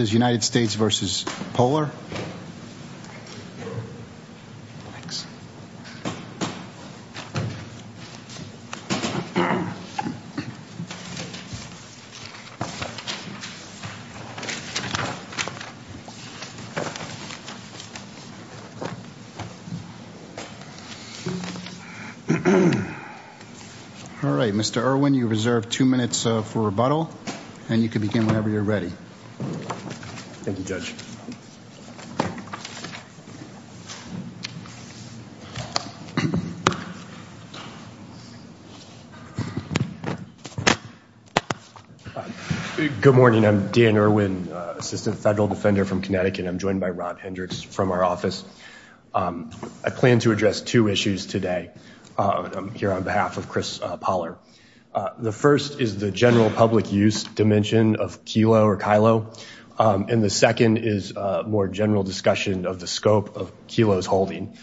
All right, Mr. Irwin, you reserve two minutes for rebuttal, and you can begin whenever you're ready. Good morning, I'm Dan Irwin, Assistant Federal Defender from Connecticut. I'm joined by Rod Hendricks from our office. I plan to address two issues today here on behalf of Chris Poller. The first is the general public use dimension of Kelo or Kylo, and the second is more general discussion of the scope of Kelo's holding.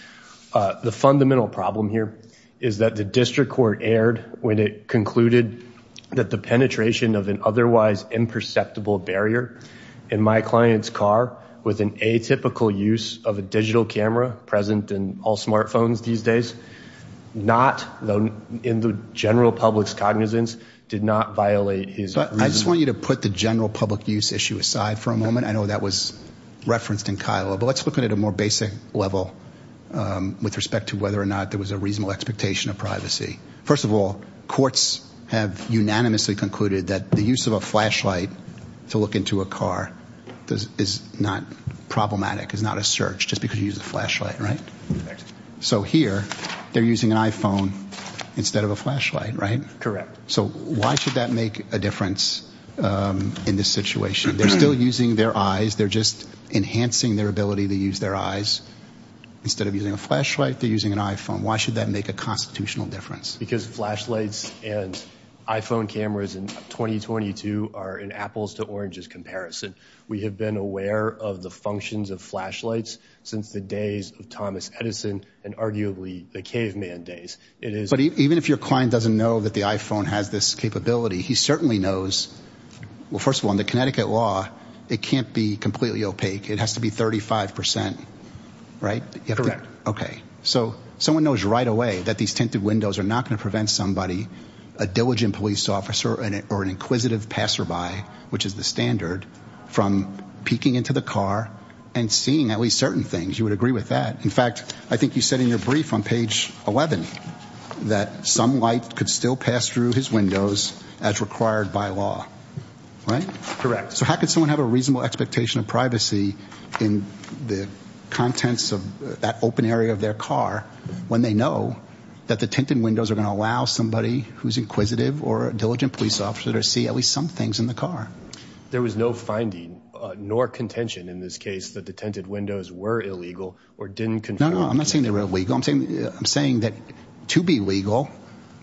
The fundamental problem here is that the district court erred when it concluded that the penetration of an otherwise imperceptible barrier in my client's car with an atypical use of a digital camera present in all smartphones these days, not in the general public's cognizance, did not violate his reason. I just want you to put the general public use issue aside for a moment. I know that was referenced in Kylo, but let's look at it at a more basic level with respect to whether or not there was a reasonable expectation of privacy. First of all, courts have unanimously concluded that the use of a flashlight to look into a car is not problematic, is not a search, just because you use a flashlight, right? So here, they're using an iPhone instead of a flashlight, right? Correct. So why should that make a difference in this situation? They're still using their eyes. They're just enhancing their ability to use their eyes. Instead of using a flashlight, they're using an iPhone. Why should that make a constitutional difference? Because flashlights and iPhone cameras in 2022 are an apples to oranges comparison. We have been aware of the functions of flashlights since the days of Thomas Edison and arguably the caveman days. But even if your client doesn't know that the iPhone has this capability, he certainly knows, well, first of all, in the Connecticut law, it can't be completely opaque. It has to be 35%, right? Correct. Okay. So someone knows right away that these tinted windows are not going to prevent somebody, a diligent police officer or an inquisitive passerby, which is the standard, from peeking into the car and seeing at least certain things. You would agree with that. In fact, I think you said in your brief on page 11 that some light could still pass through his windows as required by law, right? Correct. So how could someone have a reasonable expectation of privacy in the contents of that open area of their car when they know that the tinted windows are going to allow somebody who's inquisitive or a diligent police officer to see some things in the car? There was no finding nor contention in this case that the tinted windows were illegal or didn't control. No, no, I'm not saying they were illegal. I'm saying that to be legal,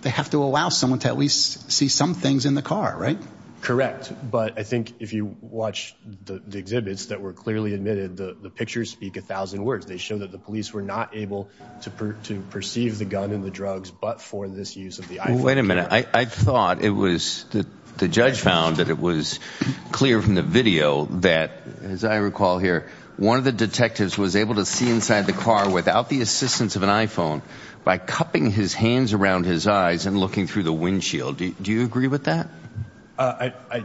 they have to allow someone to at least see some things in the car, right? Correct. But I think if you watch the exhibits that were clearly admitted, the pictures speak a thousand words. They show that the police were not able to perceive the gun and the drugs, but for this use of the iPhone. Wait a minute. I thought the judge found that it was clear from the video that, as I recall here, one of the detectives was able to see inside the car without the assistance of an iPhone by cupping his hands around his eyes and looking through the windshield. Do you agree with that?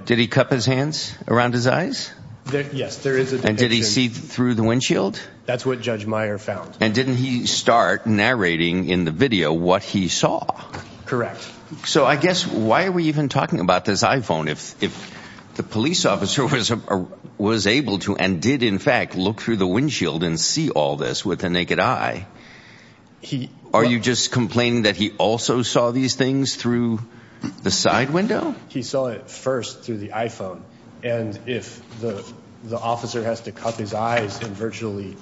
Did he cup his hands around his eyes? Yes. And did he see through the windshield? That's what Judge Meyer found. And didn't he start narrating in the video what he saw? Correct. So I guess why are we even talking about this iPhone if the police officer was able to and did in fact look through the windshield and see all this with the naked eye? Are you just complaining that he also saw these things through the side window? He saw it first through the iPhone. And if the officer has to cup his eyes and virtually,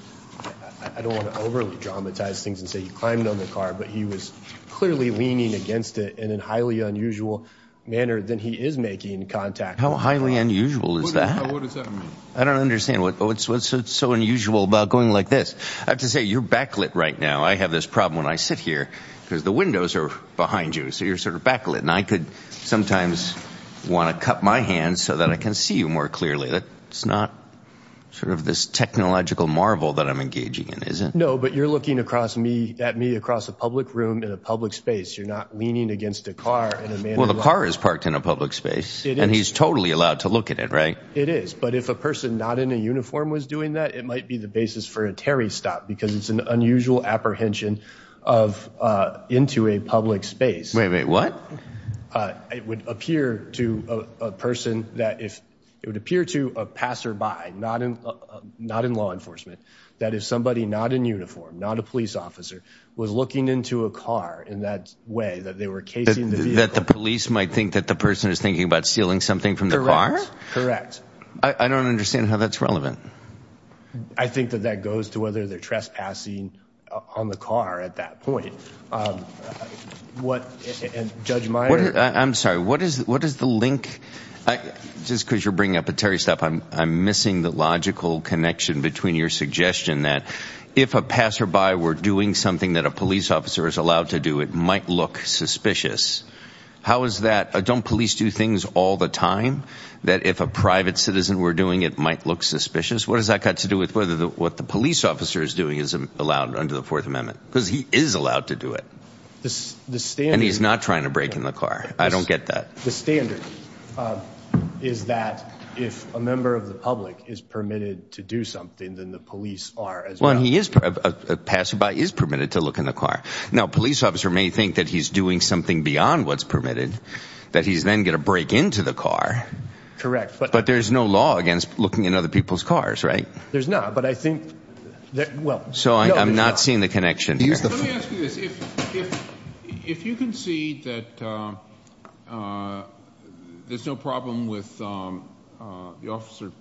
I don't want to dramatize things and say he climbed on the car, but he was clearly leaning against it in a highly unusual manner than he is making contact. How highly unusual is that? What does that mean? I don't understand what's so unusual about going like this. I have to say you're backlit right now. I have this problem when I sit here because the windows are behind you. So you're sort of backlit. And I could sometimes want to cup my hands so that I can see you more clearly. That's not sort of this technological marvel that I'm engaging in, is it? No, but you're looking at me across a public room in a public space. You're not leaning against a car. Well, the car is parked in a public space and he's totally allowed to look at it, right? It is. But if a person not in a uniform was doing that, it might be the basis for a Terry stop because it's an unusual apprehension of into a public space. Wait, wait, what? It would appear to a person that if it would appear to a passerby, not in law enforcement, that if somebody not in uniform, not a police officer was looking into a car in that way that they were casing the vehicle. That the police might think that the person is thinking about stealing something from the car? Correct. Correct. I don't understand how that's relevant. I think that that goes to whether they're trespassing on the car at that point. Um, what, and Judge Meyer? I'm sorry, what is, what is the link? Just cause you're bringing up a Terry stop, I'm, I'm missing the logical connection between your suggestion that if a passerby were doing something that a police officer is allowed to do, it might look suspicious. How is that? Don't police do things all the time that if a private citizen were doing, it might look suspicious. What does that got to do with whether the, what the police officer is doing is allowed under the fourth amendment because he is allowed to do it. And he's not trying to break in the car. I don't get that. The standard is that if a member of the public is permitted to do something, then the police are, well, he is a passerby is permitted to look in the car. Now, police officer may think that he's doing something beyond what's permitted that he's then going to break into the car. Correct. But there's no law against looking in other people's cars, right? There's not, but I think that, well, so I'm not seeing the connection. If you can see that there's no problem with the officer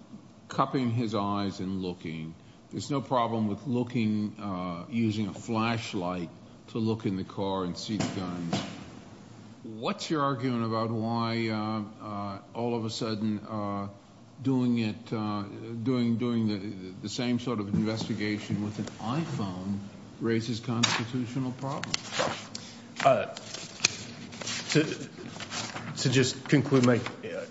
cupping his eyes and looking, there's no problem with looking, using a flashlight to look in the car and see the gun. What's your argument about why all of a sudden doing it, doing the same sort of investigation with an iPhone raises constitutional problems? To just conclude my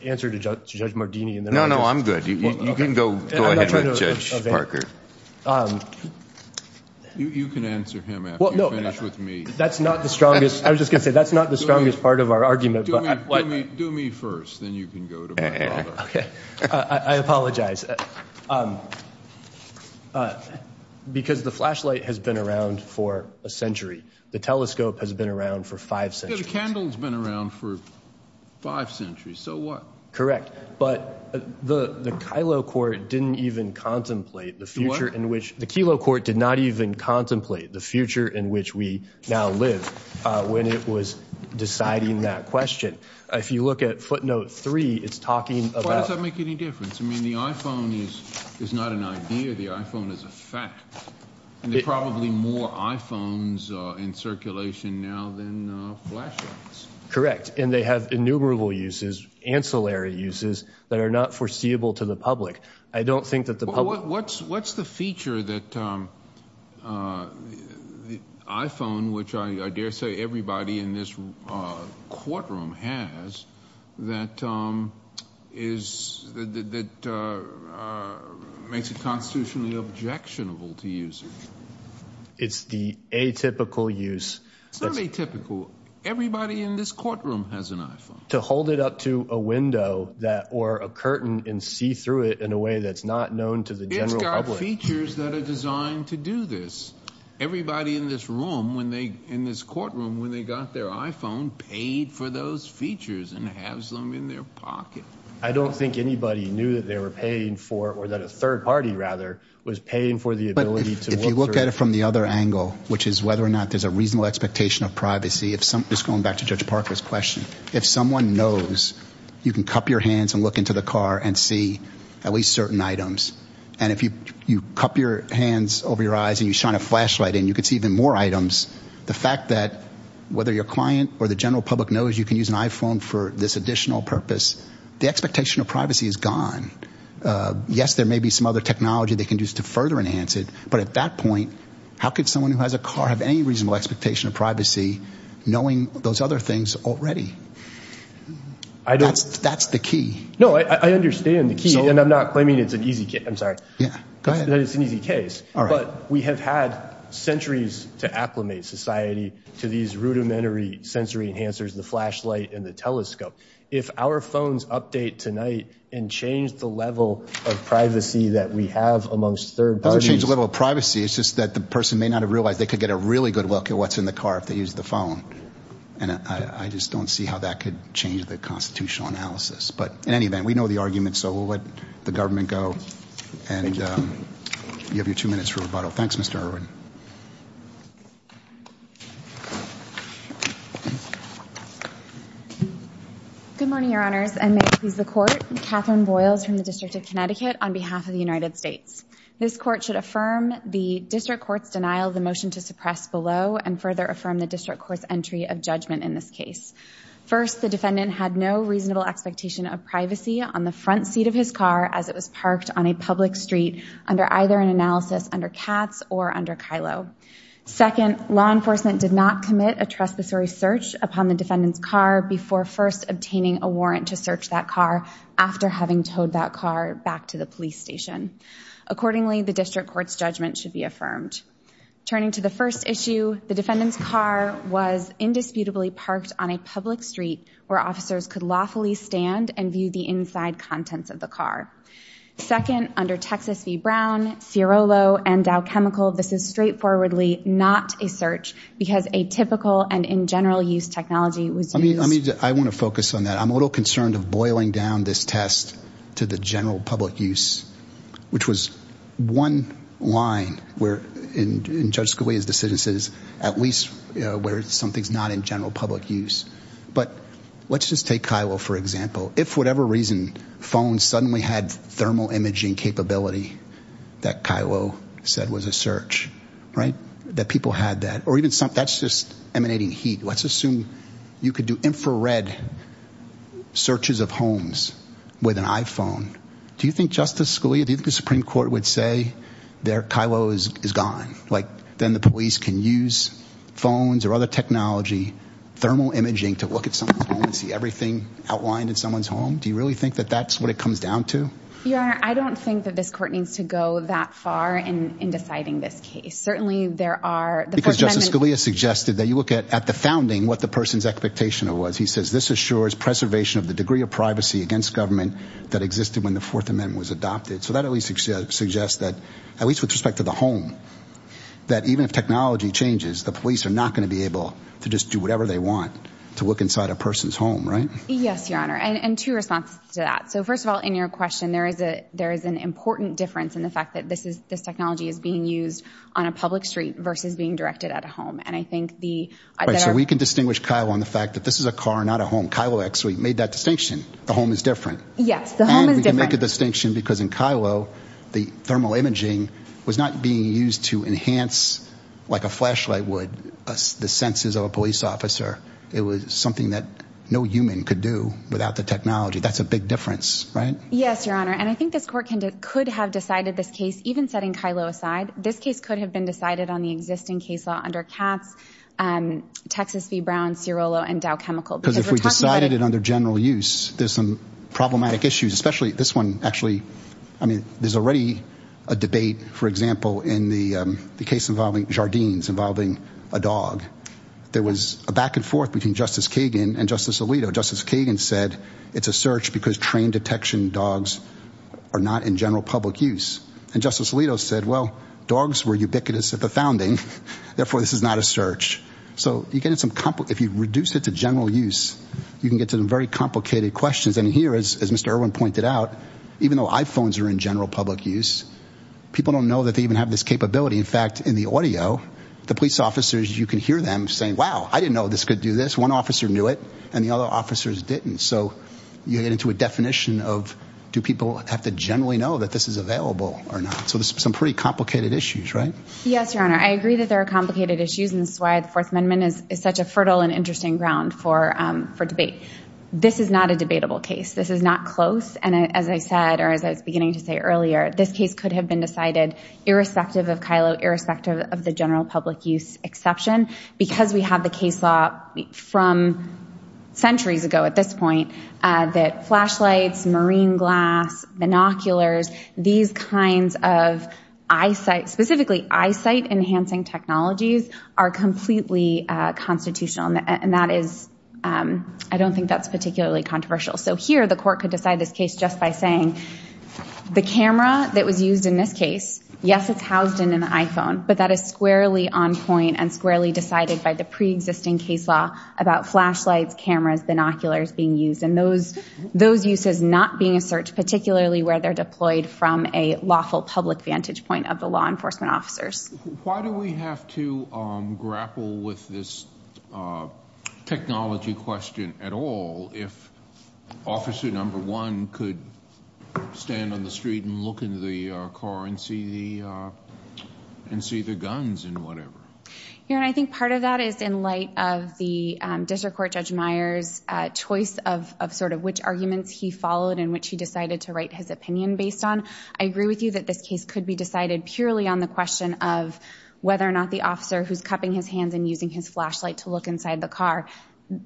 answer to Judge Mardini. No, no, I'm good. You can go ahead with Judge Parker. You can answer him after you finish with me. That's not the strongest, I was just gonna say, that's not the strongest part of our argument. Do me first, then you can go to my father. Okay, I apologize. Because the flashlight has been around for a century. The telescope has been around for five centuries. The candle's been around for five centuries, so what? Correct, but the the Kylo Court didn't even contemplate the future in which, the Kylo Court did not even contemplate the future in which we now live, when it was deciding that question. If you look at footnote three, it's talking about... Why does that make any difference? I mean, the iPhone is not an idea, the iPhone is a fact, and there are probably more iPhones in circulation now than flashlights. Correct, and they have innumerable uses, ancillary uses, that are not foreseeable to the public. I don't think that the public... What's the feature that the iPhone, which I dare say everybody in this courtroom has, that makes it constitutionally objectionable to users? It's the atypical use. It's not atypical. Everybody in this courtroom has an iPhone. To hold it up to a window that, or a curtain, and see through it in a way that's not known to the general public. It's got features that are designed to do this. Everybody in this room, when they, in this courtroom, when they got their iPhone, paid for those features and has them in their pocket. I don't think anybody knew that they were paying for, or that a third party rather, was paying for the ability to look through... If you look at it from the other angle, which is whether or not there's a reasonable expectation of privacy. Just going back to Judge Parker's question, if someone knows you can cup your hands and look into the car and see at least certain items, and if you cup your hands over your eyes and you shine a flashlight in, you can see even more items. The fact that whether your client or the general public knows you can use an iPhone for this additional purpose, the expectation of privacy is gone. Yes, there may be some other technology they can use to further enhance it, but at that point, how could someone who has a car have any reasonable expectation of privacy knowing those other things already? That's the key. No, I understand the key, and I'm not claiming it's an easy case. I'm sorry. Yeah, go ahead. It's an easy case, but we have had centuries to acclimate society to these rudimentary enhancers, the flashlight and the telescope. If our phones update tonight and change the level of privacy that we have amongst third parties... It doesn't change the level of privacy. It's just that the person may not have realized they could get a really good look at what's in the car if they use the phone, and I just don't see how that could change the constitutional analysis. But in any event, we know the argument, so we'll let the government go, and you have your two minutes for rebuttal. Thanks, Mr. Irwin. Good morning, Your Honors, and may it please the Court. Catherine Boyles from the District of Connecticut on behalf of the United States. This Court should affirm the District Court's denial of the motion to suppress below and further affirm the District Court's entry of judgment in this case. First, the defendant had no reasonable expectation of privacy on the front seat of his car as it was parked on a public street under either an analysis under Katz or under Kylo. Second, law enforcement did not commit a trespassory search upon the defendant's car before first obtaining a warrant to search that car after having towed that car back to the police station. Accordingly, the District Court's judgment should be affirmed. Turning to the first issue, the defendant's car was indisputably parked on a public street where officers could lawfully stand and view the inside contents of the car. Second, under Texas v. Brown, Cirolo, and Dow Chemical, this is straightforwardly not a search because a typical and in general use technology was used. I mean, I want to focus on that. I'm a little concerned of boiling down this test to the general public use, which was one line where in Judge Scalia's decisions is at least where something's not in general public use. But let's just take Kylo for example. If for whatever reason, phones suddenly had thermal imaging capability that Kylo said was a search, right? That people had that. Or even something that's just emanating heat. Let's assume you could do infrared searches of homes with an iPhone. Do you think Justice Scalia, do you think the Supreme Court would say there Kylo is gone? Like then the police can use phones or other technology, thermal imaging to look at someone's home and see everything outlined in someone's home? Do you really think that that's what it comes down to? Your Honor, I don't think that this court needs to go that far in deciding this case. Certainly there are- Because Justice Scalia suggested that you look at the founding, what the person's expectation was. He says, this assures preservation of the degree of privacy against government that existed when the Fourth Amendment was adopted. So that at least suggests that at least with respect to the home, that even if technology changes, the police are not going to be able to just do whatever they want to look inside a person's home, right? Yes, Your Honor. And two responses to that. So first of all, in your question, there is an important difference in the fact that this technology is being used on a public street versus being directed at a home. And I think the- Right, so we can distinguish Kylo on the fact that this is a car, not a home. Kylo actually made that distinction. The home is different. Yes, the home is different. And we can make a distinction because in Kylo, the thermal imaging was not being used to enhance like a flashlight would the senses of a police officer. It was something that no human could do without the technology. That's a big difference, right? Yes, Your Honor. And I think this court could have decided this case, even setting Kylo aside, this case could have been decided on the existing case law under Katz, Texas v. Brown, Cirolo, and Dow Chemical. Because if we decided it under general use, there's some problematic issues, especially this one actually. I mean, there's already a debate, for example, in the case involving Jardines, involving a dog. There was a back and forth between Justice Kagan and Justice Alito. Justice Kagan said it's a search because trained detection dogs are not in general public use. And Justice Alito said, well, dogs were ubiquitous at the founding. Therefore, this is not a search. So if you reduce it to general use, you can get to some very complicated questions. And here, as Mr. Irwin pointed out, even though iPhones are in general public use, people don't know that they even have this capability. In fact, in the audio, the police officers, you can hear them saying, wow, I didn't know this could do this. One officer knew it and the other officers didn't. So you get into a definition of do people have to generally know that this is available or not? So there's some pretty complicated issues, right? Yes, Your Honor. I agree that there are complicated issues and this is why the Fourth Amendment is such a fertile and interesting ground for debate. This is not a debatable case. This is not close. And as I said, or as I was beginning to say earlier, this case could have been decided irrespective of Kylo, irrespective of the general public use exception because we have the case law from centuries ago at this point that flashlights, marine glass, binoculars, these kinds of eyesight, specifically eyesight enhancing technologies, are completely constitutional. And that is, I don't think that's particularly controversial. So here the court could decide this case just by saying the camera that was used in this case, yes, it's housed in an iPhone, but that is squarely on point and squarely decided by the preexisting case law about flashlights, cameras, binoculars being used. And those those uses not being a search, particularly where they're deployed from a lawful public vantage point of the law enforcement officers. Why do we have to grapple with this technology question at all if officer number one could stand on the street and look into the car and see the guns and whatever? I think part of that is in light of the district court Judge Meyers choice of sort of which arguments he followed and which he decided to write his opinion based on. I agree with you that this case could be decided purely on the question of whether or not the officer who's cupping his hands and using his flashlight to look inside the car.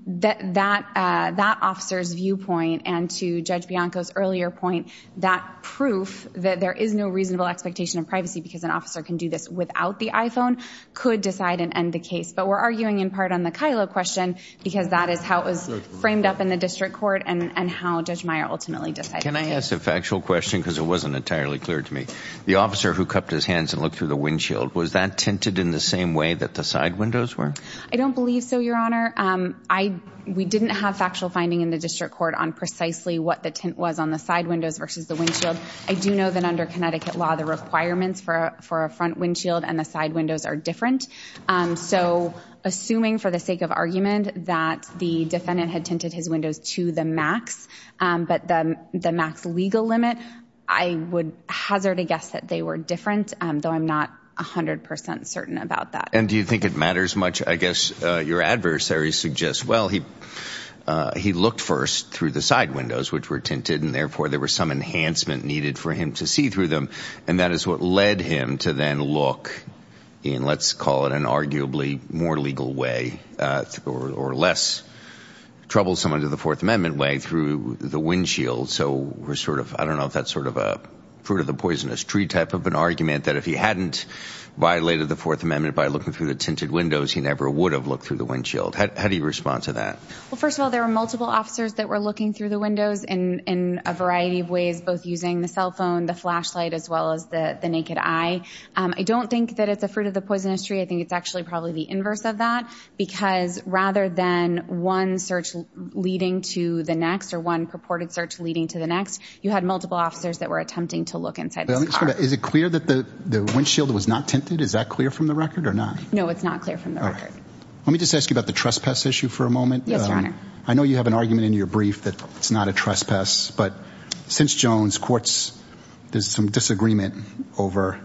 That officer's viewpoint and to Judge Bianco's earlier point, that proof that there is no reasonable expectation of privacy because an officer can do this without the iPhone could decide and end the case. But we're arguing in part on the Kyla question because that is how it was framed up in the district court and how ultimately decided. Can I ask a factual question because it wasn't entirely clear to me. The officer who cupped his hands and looked through the windshield, was that tinted in the same way that the side windows were? I don't believe so, your honor. We didn't have factual finding in the district court on precisely what the tint was on the side windows versus the windshield. I do know that under Connecticut law, the requirements for a front windshield and the side windows are different. So assuming for the sake of argument that the defendant had tinted his windows to the max, but the max legal limit, I would hazard a guess that they were different, though I'm not 100% certain about that. And do you think it matters much? I guess your adversary suggests, well, he looked first through the side windows, which were tinted, and therefore there was some enhancement needed for him to see through them. And that is what led him to then look in, let's call it an arguably more legal way or less troublesome under the fourth amendment way through the windshield. So we're sort of, I don't know if that's sort of a fruit of the poisonous tree type of an argument that if he hadn't violated the fourth amendment by looking through the tinted windows, he never would have looked through the windshield. How do you respond to that? Well, first of all, there were multiple officers that were looking through the windows in a variety of ways, both using the cell phone, the flashlight, as well as the naked eye. I don't think that it's a fruit of the poisonous tree. I think it's actually probably the inverse of that because rather than one search leading to the next or one purported search leading to the next, you had multiple officers that were attempting to look inside this car. Is it clear that the windshield was not tinted? Is that clear from the record or not? No, it's not clear from the record. Let me just ask you about the trespass issue for a moment. Yes, Your Honor. I know you have an argument in your brief that it's not a trespass, but since Jones, there's some disagreement over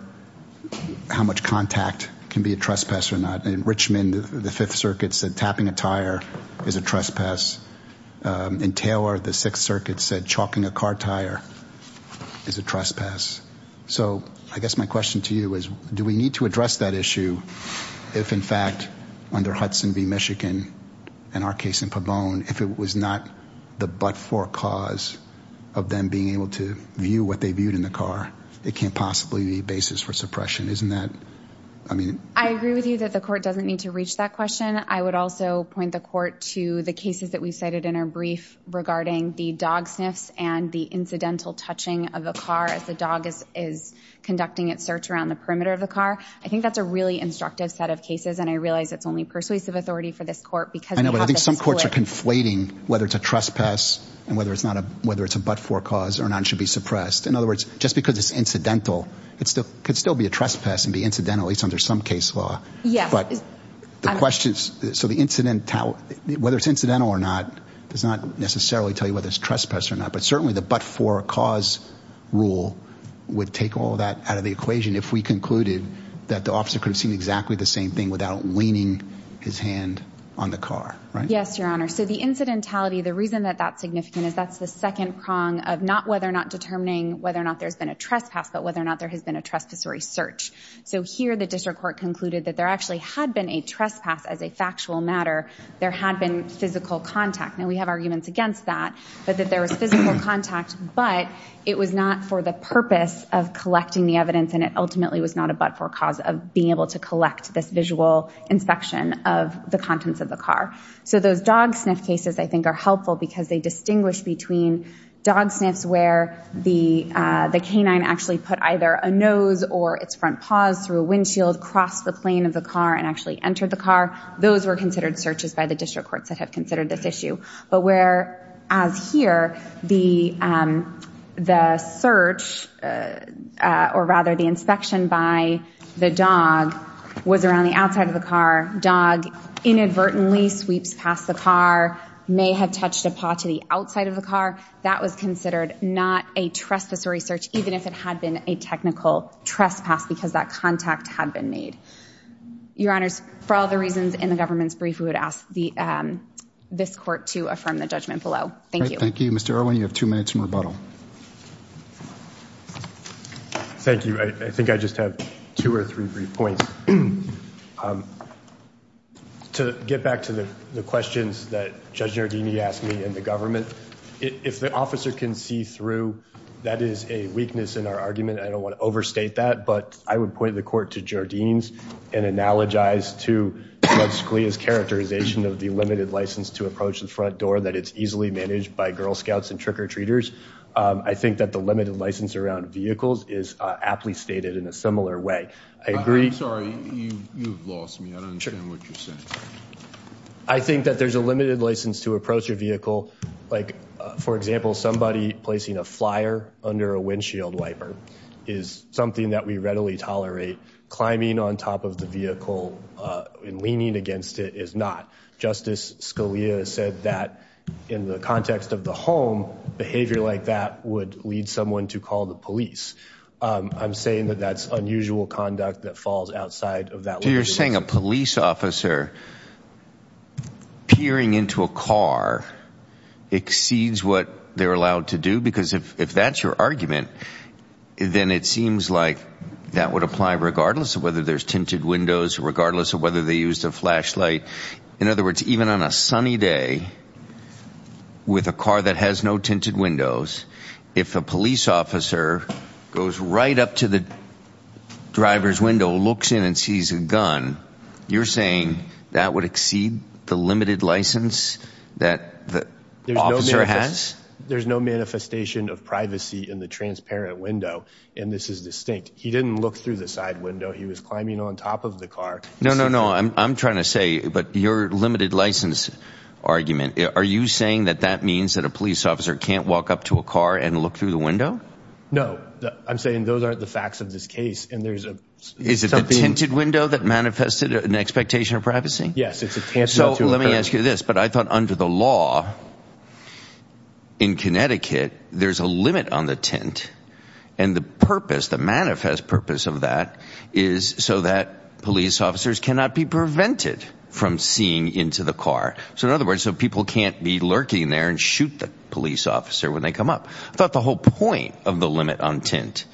how much contact can be a trespass or not. In Richmond, the Fifth Circuit said tapping a tire is a trespass. In Taylor, the Sixth Circuit said chalking a car tire is a trespass. So I guess my question to you is, do we need to address that issue if in fact under Hudson v. Michigan and our case in Pabon, if it was not the but-for cause of them being able to view what they viewed in the car, it can't possibly be a basis for suppression. Isn't that... I agree with you that the court doesn't need to reach that question. I would also point the court to the cases that we've cited in our brief regarding the dog sniffs and the incidental touching of a car as the dog is conducting its search around the perimeter of the car. I think that's a really instructive set of cases and I realize it's only persuasive authority for this court because... I know, but I think some courts are conflating whether it's a trespass and whether it's a but-for cause or not and should be suppressed. In other words, just because it's incidental, it could still be a trespass and be incidental, at least under some case law. But the question is, whether it's incidental or not does not necessarily tell you whether it's trespass or not, but certainly the but-for cause rule would take all of that out of the equation if we concluded that the officer could have seen exactly the same thing without weaning his hand on the car, right? Yes, your honor. So the incidentality, the reason that that's significant is that's the second prong of not whether or not determining whether or not there's been a trespass, but whether or not there has been a trespassory search. So here the district court concluded that there actually had been a trespass as a factual matter. There had been physical contact. Now we have arguments against that, but that there was physical contact, but it was not for the purpose of collecting the evidence, and it ultimately was not a but-for cause of being able to collect this visual inspection of the contents of the car. So those dog sniff cases I think are helpful because they distinguish between dog sniffs where the canine actually put either a nose or its front paws through a windshield, crossed the plane of the car, and actually entered the car. Those were considered searches by the district courts that have considered this issue. But whereas here, the search or rather the inspection by the dog was around the outside of the car, dog inadvertently sweeps past the car, may have touched a paw to the outside of the car, that was considered not a trespassory search even if it had been a technical trespass because that contact had been made. Your honors, for all the reasons in the government's brief, we would ask this court to affirm the judgment below. Thank you. Thank you. Mr. Irwin, you have two minutes in rebuttal. Thank you. I think I just have two or three brief points. To get back to the questions that Judge Giardini asked me and the government, if the officer can see through, that is a weakness in our argument. I don't want to overstate that, but I would point the court to Giardini's and analogize to Judge Scalia's characterization of the limited license to approach the front door that it's managed by Girl Scouts and trick-or-treaters. I think that the limited license around vehicles is aptly stated in a similar way. I agree. I'm sorry, you've lost me. I don't understand what you're saying. I think that there's a limited license to approach a vehicle, like for example, somebody placing a flyer under a windshield wiper is something that we readily tolerate. Climbing on top of the vehicle and leaning against it is not. Justice Scalia said that in the context of the home, behavior like that would lead someone to call the police. I'm saying that that's unusual conduct that falls outside of that. You're saying a police officer peering into a car exceeds what they're allowed to do? Because if that's your argument, then it seems like that would apply regardless of whether there's tinted other words, even on a sunny day with a car that has no tinted windows, if a police officer goes right up to the driver's window, looks in and sees a gun, you're saying that would exceed the limited license that the officer has? There's no manifestation of privacy in the transparent window, and this is distinct. He didn't look through the side window. He was on top of the car. No, no, no. I'm trying to say, but your limited license argument, are you saying that that means that a police officer can't walk up to a car and look through the window? No, I'm saying those aren't the facts of this case. Is it the tinted window that manifested an expectation of privacy? Yes, it's a tinted window. Let me ask you this, but I thought under the law in Connecticut, there's a limit on the tint and the purpose, the manifest purpose of that is so that police officers cannot be prevented from seeing into the car. So in other words, so people can't be lurking there and shoot the police officer when they come up. I thought the whole point of the limit on tint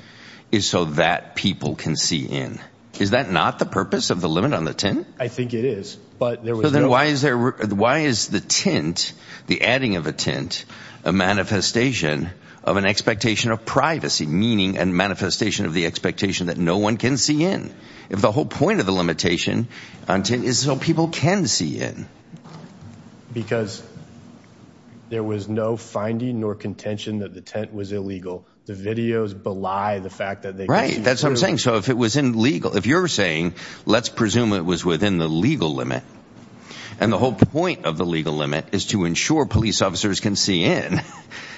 is so that people can see in. Is that not the purpose of the limit on the tint? I think it is, but there was no... Then why is the tint, the adding of a tint, a manifestation of an expectation of privacy, meaning and manifestation of the expectation that no one can see in? If the whole point of the limitation on tint is so people can see in. Because there was no finding nor contention that the tint was illegal. The videos belie the fact that they... Right, that's what I'm saying. So if it was in legal, if you're saying, let's presume it was within the legal limit and the whole point of the legal limit is to ensure police officers can see in,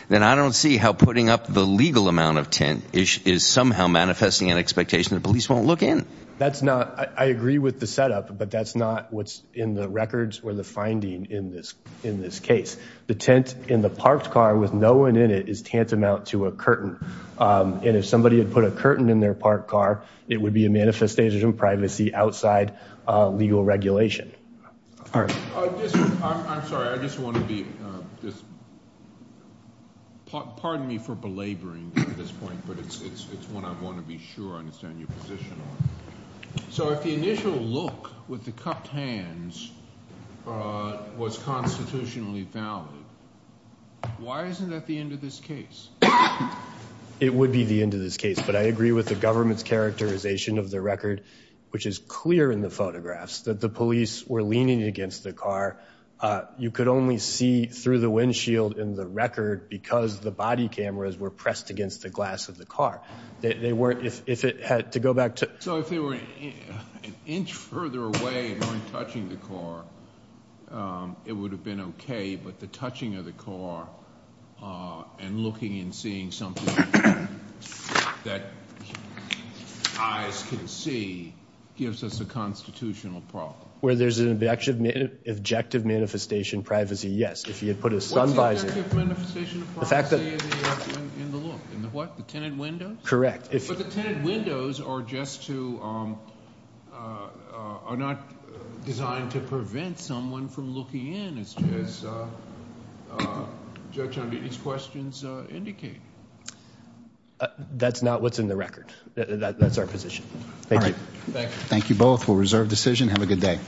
then I don't see how putting up the legal amount of tint is somehow manifesting an expectation that police won't look in. That's not... I agree with the setup, but that's not what's in the records or the finding in this case. The tint in the parked car with no one in it is tantamount to a curtain. And if somebody had put a curtain in their parked car, it would be a manifestation of privacy outside legal regulation. All right. I'm sorry. I just want to be... Pardon me for belaboring at this point, but it's one I want to be sure I understand your position on. So if the initial look with the cupped hands was constitutionally valid, why isn't that the end of this case? It would be the end of this case, but I agree with the government's characterization of the record, which is clear in the photographs, that the police were leaning against the car. You could only see through the windshield in the record because the body cameras were pressed against the glass of the car. They weren't... If it had to go back to... So if they were an inch further away from touching the car, it would have been okay, but the touching of the car and looking and seeing something that eyes can see gives us a constitutional problem. Where there's an objective manifestation of privacy, yes. If you had put a sun visor... What's the objective manifestation of privacy in the look? In the what? The tenant windows? Correct. But the tenant windows are just to... are not designed to prevent someone from looking in, as Judge Amidi's questions indicate. That's not what's in the record. That's our position. Thank you. All right. Thank you both. We'll reserve decision. Have a good day.